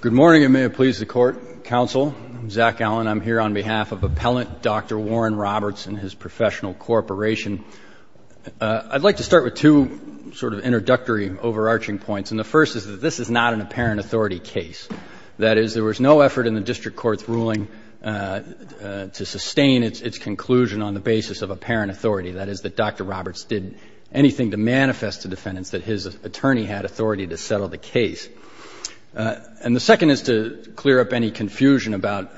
Good morning, and may it please the Court, Counsel, I'm Zach Allen. I'm here on behalf of Appellant Dr. Warren Roberts and his professional corporation. I'd like to start with two sort of introductory overarching points, and the first is that this is not an apparent authority case. That is, there was no effort in the district court's ruling to sustain its conclusion on the basis of apparent authority. That is, that Dr. Roberts did anything to manifest to defendants that his attorney had authority to settle the case. And the second is to clear up any confusion about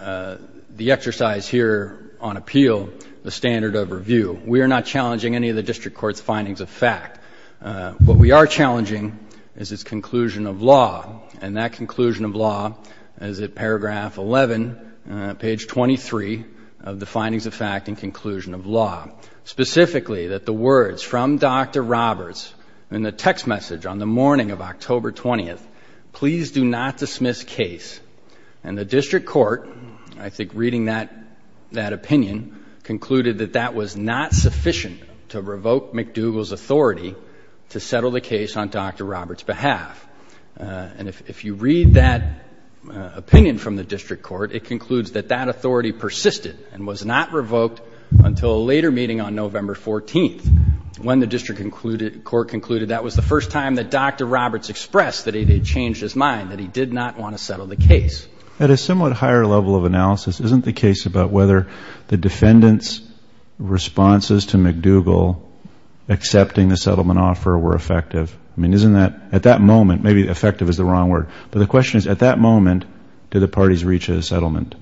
the exercise here on appeal, the standard of review. We are not challenging any of the district court's findings of fact. What we are challenging is its conclusion of law, and that conclusion of law is at paragraph 11, page 23 of the findings of fact and conclusion of law. Specifically, that the words from Dr. Roberts in the text message on the morning of October 20th, please do not dismiss case. And the district court, I think reading that opinion, concluded that that was not sufficient to revoke McDougall's authority to settle the case on Dr. Roberts' behalf. And if you read that opinion from the district court, it concludes that that authority persisted and was not revoked until a later meeting on November 14th, when the district court concluded that was the first time that Dr. Roberts expressed that he had changed his mind, that he did not want to settle the case. At a somewhat higher level of analysis, isn't the case about whether the defendant's responses to McDougall accepting the settlement offer were effective? I mean, isn't that, at that moment, maybe effective is the wrong word, but the question is, at that moment, did the parties reach a settlement?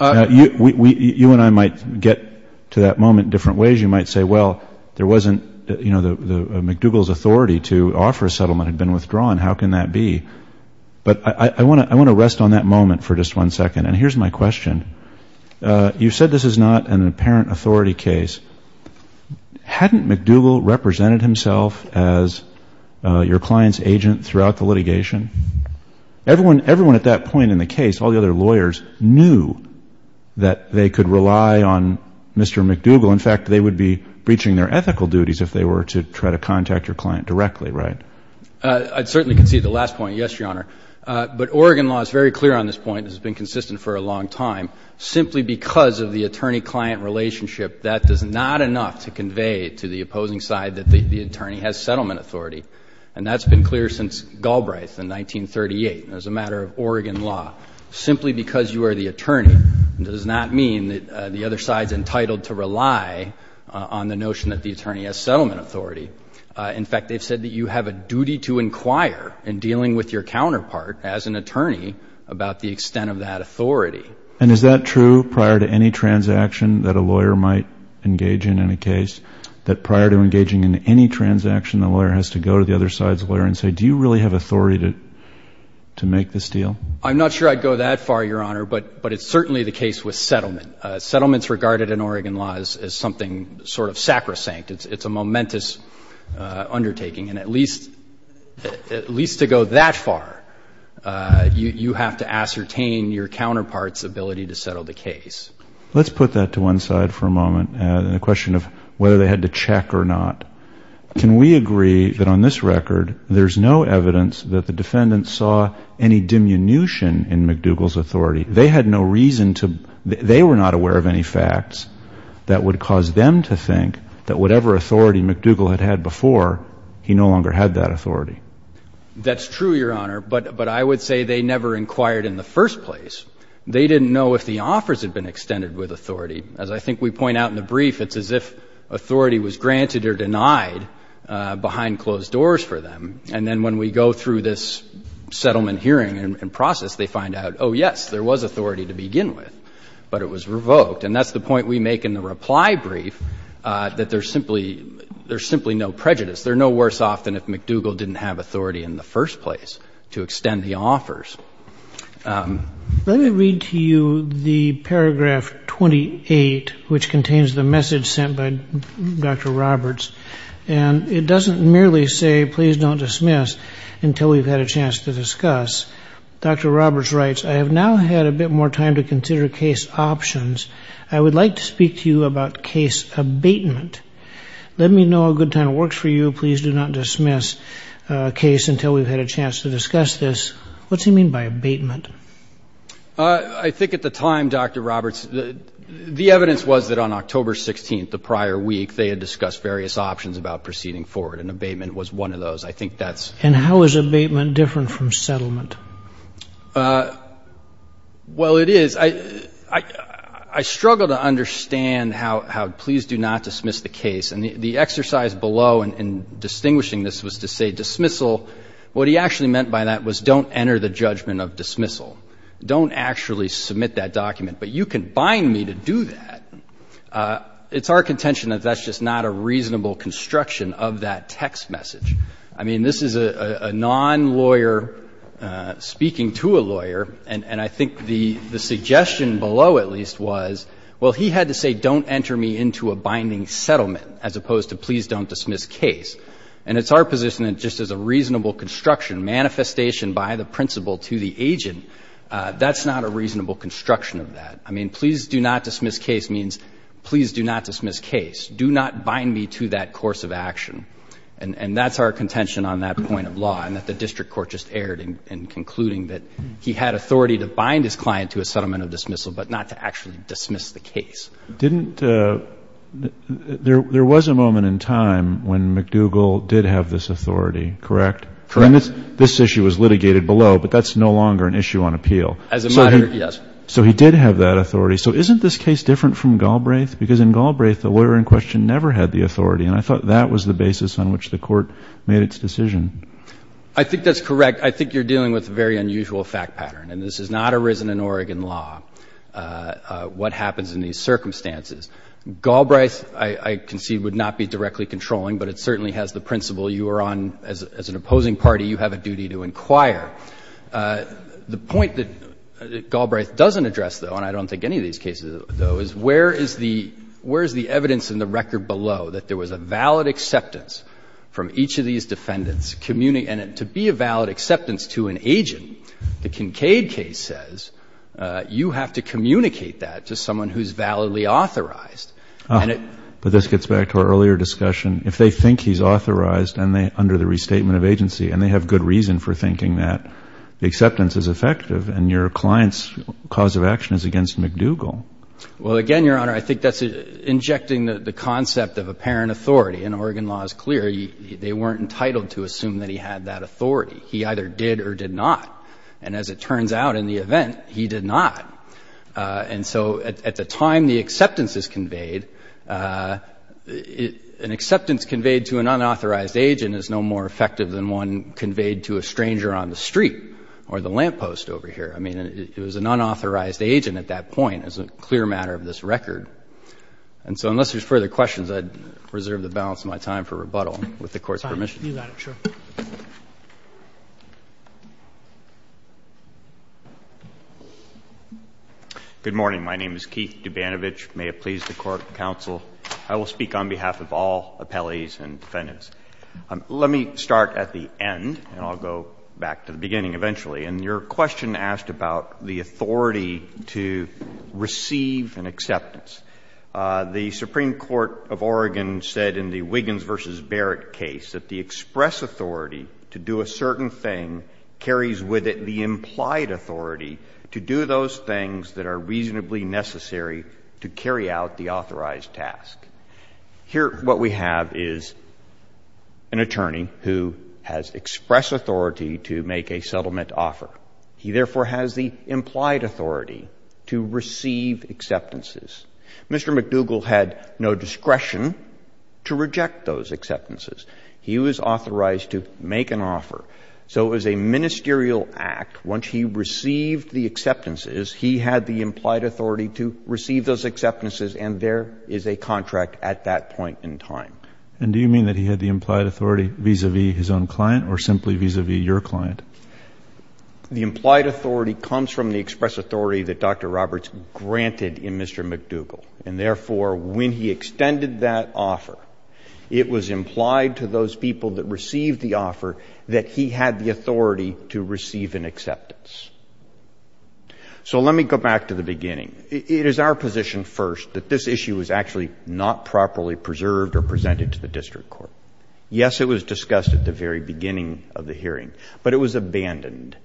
You and I might get to that moment in different ways. You might say, well, there wasn't, you know, McDougall's authority to offer a settlement had been withdrawn. How can that be? But I want to rest on that moment for just one second. And here's my question. You said this is not an apparent authority case. Hadn't McDougall represented himself as your client's agent throughout the litigation? Everyone at that point in the case, all the other lawyers, knew that they could rely on Mr. McDougall. In fact, they would be breaching their ethical duties if they were to try to contact your client directly, right? I'd certainly concede the last point, yes, Your Honor. But Oregon law is very clear on this point and has been consistent for a long time. Simply because of the attorney-client relationship, that is not enough to convey to the opposing side that the attorney has settlement authority. And that's been clear since Galbraith in 1938 as a matter of Oregon law. Simply because you are the attorney does not mean that the other side is entitled to rely on the notion that the attorney has settlement authority. In fact, they've said that you have a duty to inquire in dealing with your counterpart as an attorney about the extent of that authority. And is that true prior to any transaction that a lawyer might engage in in a case, that prior to engaging in any transaction, the lawyer has to go to the other side's lawyer and say, do you really have authority to make this deal? I'm not sure I'd go that far, Your Honor, but it's certainly the case with settlement. Settlements regarded in Oregon law is something sort of sacrosanct. It's a momentous undertaking. And at least to go that far, you have to ascertain your counterpart's ability to settle the case. Let's put that to one side for a moment and the question of whether they had to check or not. Can we agree that on this record there's no evidence that the defendant saw any diminution in McDougall's authority? They had no reason to they were not aware of any facts that would cause them to think that whatever authority McDougall had had before, he no longer had that authority. That's true, Your Honor, but I would say they never inquired in the first place. They didn't know if the offers had been extended with authority. As I think we point out in the brief, it's as if authority was granted or denied behind closed doors for them. And then when we go through this settlement hearing and process, they find out, oh, yes, there was authority to begin with, but it was revoked. And that's the point we make in the reply brief, that there's simply no prejudice. There's no worse off than if McDougall didn't have authority in the first place to extend the offers. Let me read to you the paragraph 28, which contains the message sent by Dr. Roberts. And it doesn't merely say please don't dismiss until we've had a chance to discuss. Dr. Roberts writes, I have now had a bit more time to consider case options. I would like to speak to you about case abatement. Let me know a good time it works for you. Please do not dismiss a case until we've had a chance to discuss this. What's he mean by abatement? I think at the time, Dr. Roberts, the evidence was that on October 16th, the prior week, they had discussed various options about proceeding forward, and abatement was one of those. And how is abatement different from settlement? Well, it is. I struggle to understand how please do not dismiss the case. And the exercise below in distinguishing this was to say dismissal. What he actually meant by that was don't enter the judgment of dismissal. Don't actually submit that document. But you can bind me to do that. It's our contention that that's just not a reasonable construction of that text message. I mean, this is a non-lawyer speaking to a lawyer, and I think the suggestion below at least was, well, he had to say don't enter me into a binding settlement as opposed to please don't dismiss case. And it's our position that just as a reasonable construction, manifestation by the principal to the agent, that's not a reasonable construction of that. I mean, please do not dismiss case means please do not dismiss case. Do not bind me to that course of action. And that's our contention on that point of law, and that the district court just erred in concluding that he had authority to bind his client to a settlement of dismissal, but not to actually dismiss the case. Didn't the — there was a moment in time when McDougal did have this authority, correct? Correct. And this issue was litigated below, but that's no longer an issue on appeal. As a matter — yes. So he did have that authority. So isn't this case different from Galbraith? Because in Galbraith, the lawyer in question never had the authority, and I thought that was the basis on which the court made its decision. I think that's correct. I think you're dealing with a very unusual fact pattern, and this has not arisen in Oregon law, what happens in these circumstances. Galbraith, I concede, would not be directly controlling, but it certainly has the principle you are on — as an opposing party, you have a duty to inquire. The point that Galbraith doesn't address, though, and I don't think any of these cases, though, is where is the — where is the evidence in the record below that there was a valid acceptance from each of these defendants, and to be a valid acceptance to an agent, the Kincaid case says you have to communicate that to someone who is validly authorized. And it — But this gets back to our earlier discussion. If they think he's authorized under the restatement of agency, and they have good reason for thinking that the acceptance is effective, and your client's cause of action is against McDougal. Well, again, Your Honor, I think that's injecting the concept of apparent authority, and Oregon law is clear. They weren't entitled to assume that he had that authority. He either did or did not. And as it turns out in the event, he did not. And so at the time the acceptance is conveyed, an acceptance conveyed to an unauthorized agent is no more effective than one conveyed to a stranger on the street or the lamppost over here. I mean, it was an unauthorized agent at that point. It's a clear matter of this record. And so unless there's further questions, I'd reserve the balance of my time for rebuttal with the Court's permission. You got it. Sure. Good morning. My name is Keith Dubanovich. May it please the Court, counsel. I will speak on behalf of all appellees and defendants. Let me start at the end, and I'll go back to the beginning eventually. And your question asked about the authority to receive an acceptance. The Supreme Court of Oregon said in the Wiggins v. Barrett case that the express authority to do a certain thing carries with it the implied authority to do those things that are reasonably necessary to carry out the authorized task. Here, what we have is an attorney who has express authority to make a settlement offer. He, therefore, has the implied authority to receive acceptances. Mr. McDougall had no discretion to reject those acceptances. He was authorized to make an offer. So it was a ministerial act. Once he received the acceptances, he had the implied authority to receive those acceptances. And he was in compliance with the contract at that point in time. And do you mean that he had the implied authority vis-à-vis his own client or simply vis-à-vis your client? The implied authority comes from the express authority that Dr. Roberts granted in Mr. McDougall. And, therefore, when he extended that offer, it was implied to those people that received the offer that he had the authority to receive an acceptance. So let me go back to the beginning. It is our position first that this issue was actually not properly preserved or presented to the district court. Yes, it was discussed at the very beginning of the hearing, but it was abandoned.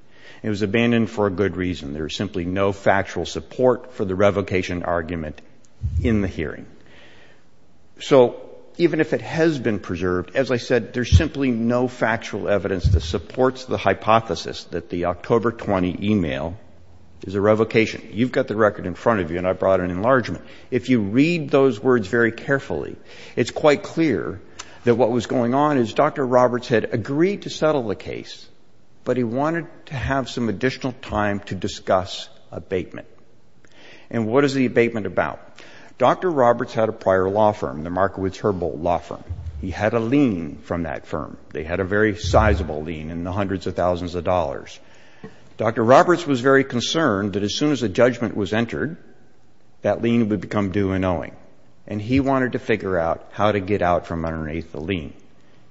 It was abandoned for a good reason. There was simply no factual support for the revocation argument in the hearing. So even if it has been preserved, as I said, there's simply no factual evidence that supports the hypothesis that the October 20 email is a revocation. You've got the record in front of you, and I brought an enlargement. If you read those words very carefully, it's quite clear that what was going on is Dr. Roberts had agreed to settle the case, but he wanted to have some additional time to discuss abatement. And what is the abatement about? Dr. Roberts had a prior law firm, the Markowitz-Herbold Law Firm. He had a lien from that firm. They had a very sizable lien in the hundreds of thousands of dollars. Dr. Roberts was very concerned that as soon as a judgment was entered, that lien would become due and owing. And he wanted to figure out how to get out from underneath the lien.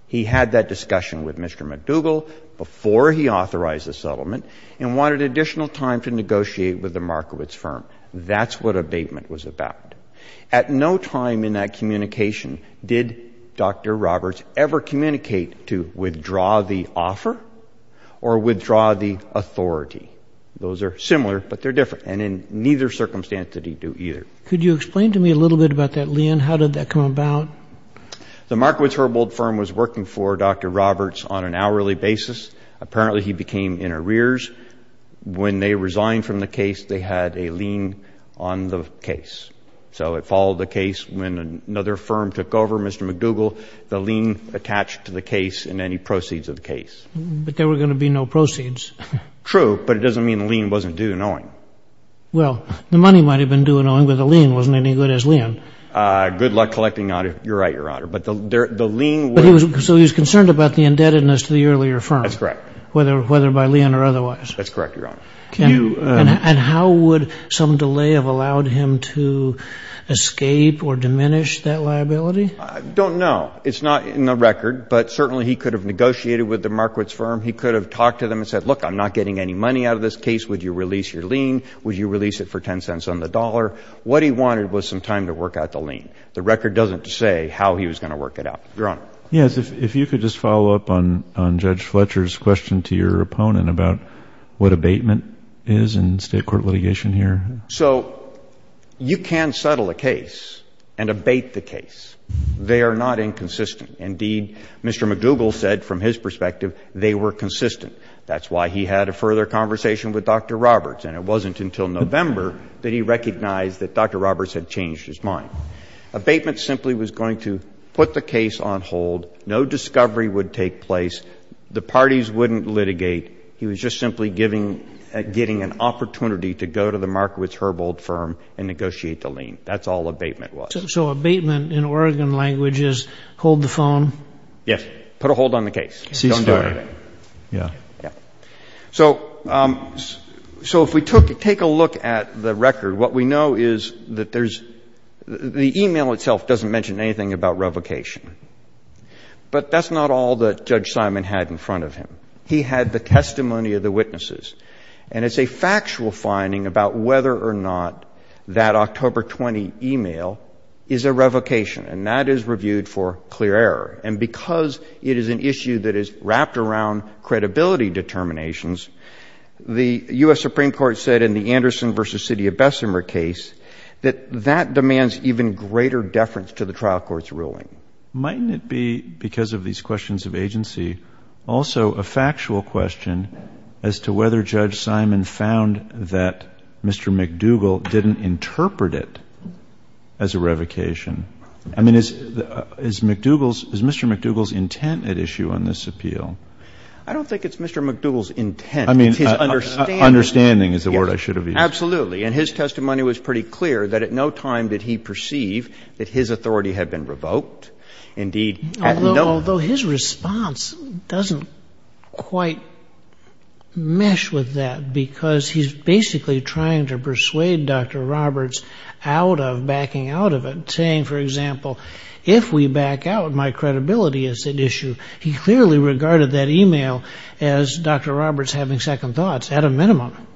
He had that discussion with Mr. McDougall before he authorized the settlement and wanted additional time to negotiate with the Markowitz firm. That's what abatement was about. At no time in that communication did Dr. Roberts ever communicate to withdraw the offer or withdraw the authority. Those are similar, but they're different. And in neither circumstance did he do either. Could you explain to me a little bit about that lien? How did that come about? The Markowitz-Herbold firm was working for Dr. Roberts on an hourly basis. Apparently, he became in arrears. When they resigned from the case, they had a lien on the case. So it followed the case. When another firm took over, Mr. McDougall, the lien attached to the case and any proceeds of the case. But there were going to be no proceeds. True, but it doesn't mean the lien wasn't due and owing. Well, the money might have been due and owing, but the lien wasn't any good as lien. Good luck collecting, Your Honor. You're right, Your Honor. But the lien was So he was concerned about the indebtedness to the earlier firm. That's correct. Whether by lien or otherwise. That's correct, Your Honor. And how would some delay have allowed him to escape or diminish that liability? I don't know. It's not in the record, but certainly he could have negotiated with the Markowitz firm. He could have talked to them and said, Look, I'm not getting any money out of this case. Would you release your lien? Would you release it for 10 cents on the dollar? What he wanted was some time to work out the lien. The record doesn't say how he was going to work it out, Your Honor. Yes. If you could just follow up on Judge Fletcher's question to your opponent about what abatement is in state court litigation here. So you can settle a case and abate the case. They are not inconsistent. Indeed, Mr. McDougall said from his perspective they were consistent. That's why he had a further conversation with Dr. Roberts, and it wasn't until November that he recognized that Dr. Roberts had changed his mind. Abatement simply was going to put the case on hold. No discovery would take place. The parties wouldn't litigate. He was just simply getting an opportunity to go to the Markowitz-Herbold firm and negotiate the lien. That's all abatement was. So abatement in Oregon language is hold the phone? Yes. Put a hold on the case. Don't do anything. Yeah. Yeah. So if we take a look at the record, what we know is that there's the e-mail itself doesn't mention anything about revocation. But that's not all that Judge Simon had in front of him. He had the testimony of the witnesses. And it's a factual finding about whether or not that October 20 e-mail is a revocation, and that is reviewed for clear error. And because it is an issue that is wrapped around credibility determinations, the U.S. Supreme Court said in the Anderson v. City of Bessemer case that that demands even greater deference to the trial court's ruling. Mightn't it be, because of these questions of agency, also a factual question as to whether Judge Simon found that Mr. McDougall didn't interpret it as a revocation? I mean, is Mr. McDougall's intent at issue on this appeal? I don't think it's Mr. McDougall's intent. I mean, understanding is the word I should have used. Absolutely. And his testimony was pretty clear that at no time did he perceive that his authority had been revoked. Indeed, at no time. Although his response doesn't quite mesh with that, because he's basically trying to persuade Dr. Roberts out of backing out of it, saying, for example, if we back out, my credibility is at issue. He clearly regarded that e-mail as Dr. Roberts having second thoughts, at a minimum.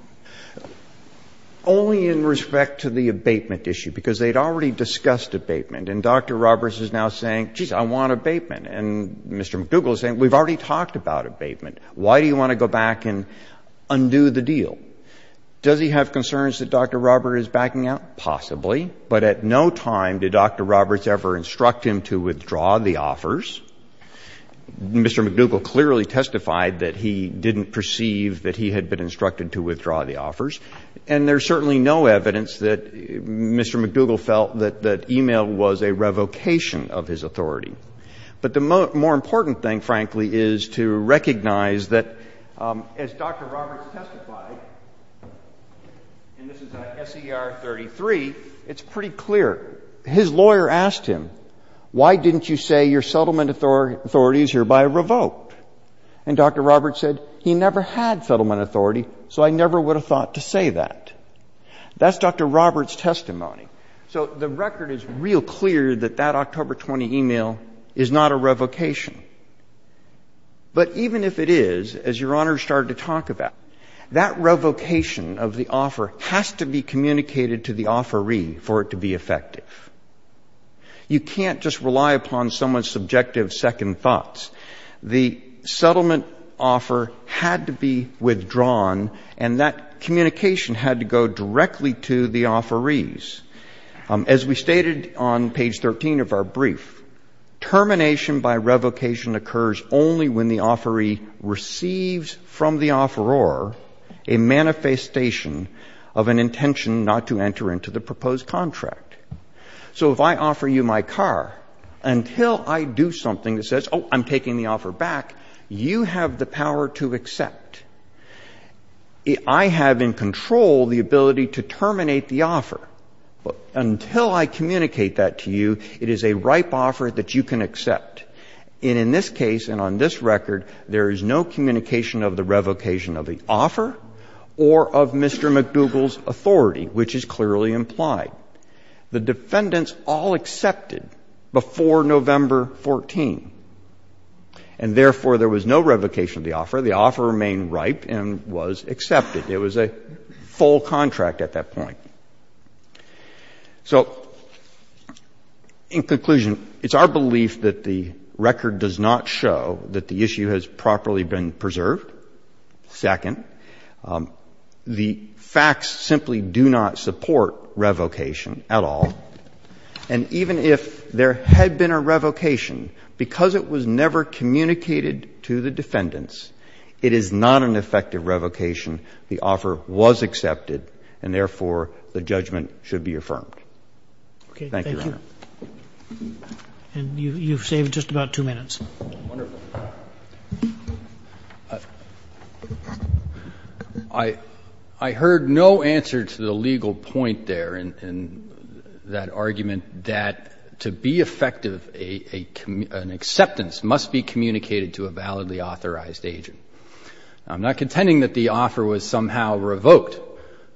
Only in respect to the abatement issue, because they'd already discussed abatement. And Dr. Roberts is now saying, geez, I want abatement. And Mr. McDougall is saying, we've already talked about abatement. Why do you want to go back and undo the deal? Does he have concerns that Dr. Roberts is backing out? Possibly. But at no time did Dr. Roberts ever instruct him to withdraw the offers. Mr. McDougall clearly testified that he didn't perceive that he had been instructed to withdraw the offers. And there's certainly no evidence that Mr. McDougall felt that e-mail was a revocation of his authority. But the more important thing, frankly, is to recognize that as Dr. Roberts testified, and this is on S.E.R. 33, it's pretty clear. His lawyer asked him, why didn't you say your settlement authorities are by revoke? And Dr. Roberts said, he never had settlement authority, so I never would have thought to say that. That's Dr. Roberts' testimony. So the record is real clear that that October 20 e-mail is not a revocation. But even if it is, as Your Honor started to talk about, that revocation of the offer has to be communicated to the offeree for it to be effective. You can't just rely upon someone's subjective second thoughts. The settlement offer had to be withdrawn, and that communication had to go directly to the offerees. As we stated on page 13 of our brief, termination by revocation occurs only when the offeree receives from the offeror a manifestation of an intention not to enter into the proposed contract. So if I offer you my car, until I do something that says, oh, I'm taking the offer back, you have the power to accept. I have in control the ability to terminate the offer. Until I communicate that to you, it is a ripe offer that you can accept. And in this case and on this record, there is no communication of the revocation of the offer or of Mr. McDougall's authority, which is clearly implied. The defendants all accepted before November 14. And therefore, there was no revocation of the offer. The offer remained ripe and was accepted. It was a full contract at that point. So in conclusion, it's our belief that the record does not show that the issue has properly been preserved. Second, the facts simply do not support revocation at all. And even if there had been a revocation, because it was never communicated to the defendants, it is not an effective revocation. The offer was accepted, and therefore, the judgment should be affirmed. Thank you, Your Honor. Roberts. And you've saved just about two minutes. Wonderful. I heard no answer to the legal point there in that argument that to be effective, an acceptance must be communicated to a validly authorized agent. I'm not contending that the offer was somehow revoked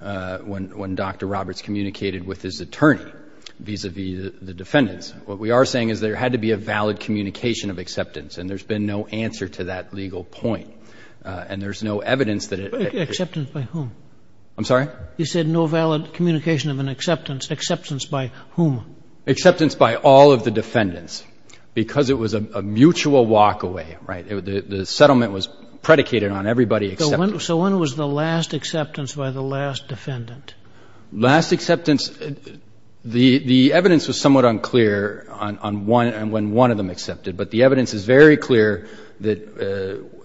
when Dr. Roberts communicated with his attorney vis-à-vis the defendants. What we are saying is there had to be a valid communication of acceptance, and there's been no answer to that legal point. And there's no evidence that it was. Acceptance by whom? I'm sorry? You said no valid communication of an acceptance. Acceptance by whom? Acceptance by all of the defendants, because it was a mutual walkaway, right? The settlement was predicated on everybody accepting. So when was the last acceptance by the last defendant? Last acceptance? The evidence was somewhat unclear on when one of them accepted, but the evidence is very clear that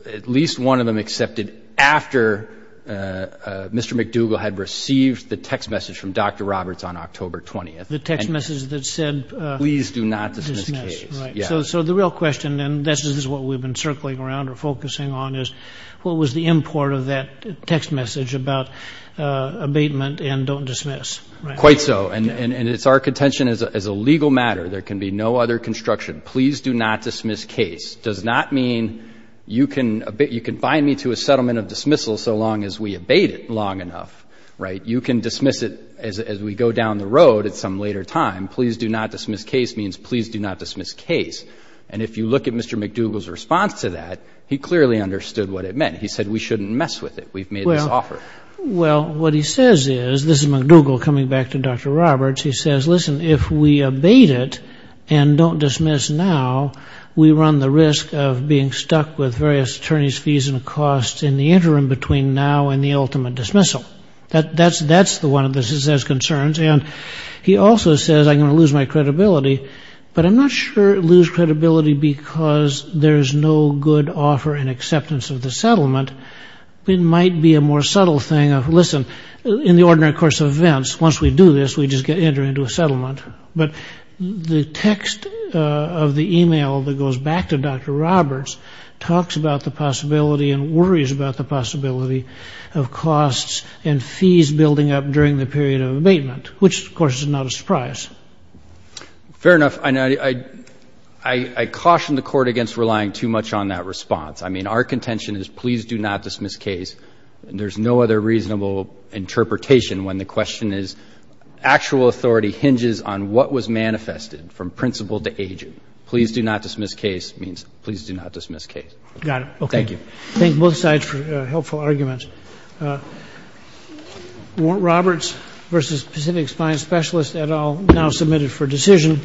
at least one of them accepted after Mr. McDougall had received the text message from Dr. Roberts on October 20th. The text message that said? Please do not dismiss. Right. So the real question, and this is what we've been circling around or focusing on, is what was the import of that text message about abatement and don't dismiss? Quite so. And it's our contention as a legal matter, there can be no other construction. Please do not dismiss case does not mean you can bind me to a settlement of dismissal so long as we abate it long enough, right? You can dismiss it as we go down the road at some later time. Please do not dismiss case means please do not dismiss case. And if you look at Mr. McDougall's response to that, he clearly understood what it meant. He said we shouldn't mess with it. We've made this offer. Well, what he says is, this is McDougall coming back to Dr. Roberts, he says, listen, if we abate it and don't dismiss now, we run the risk of being stuck with various attorney's fees and costs in the interim between now and the ultimate dismissal. That's the one of his concerns. And he also says, I'm going to lose my credibility, but I'm not sure lose credibility because there's no good offer and acceptance of the settlement. It might be a more subtle thing of, listen, in the ordinary course of events, once we do this, we just get entered into a settlement. But the text of the email that goes back to Dr. Roberts talks about the possibility and worries about the possibility of costs and fees building up during the period of abatement, which, of course, is not a surprise. Fair enough. I caution the court against relying too much on that response. I mean, our contention is please do not dismiss case. There's no other reasonable interpretation when the question is, actual authority hinges on what was manifested from principal to agent. Please do not dismiss case means please do not dismiss case. Got it. Thank you. Thank both sides for helpful arguments. Warren Roberts versus Pacific Spine Specialist et al. now submitted for decision.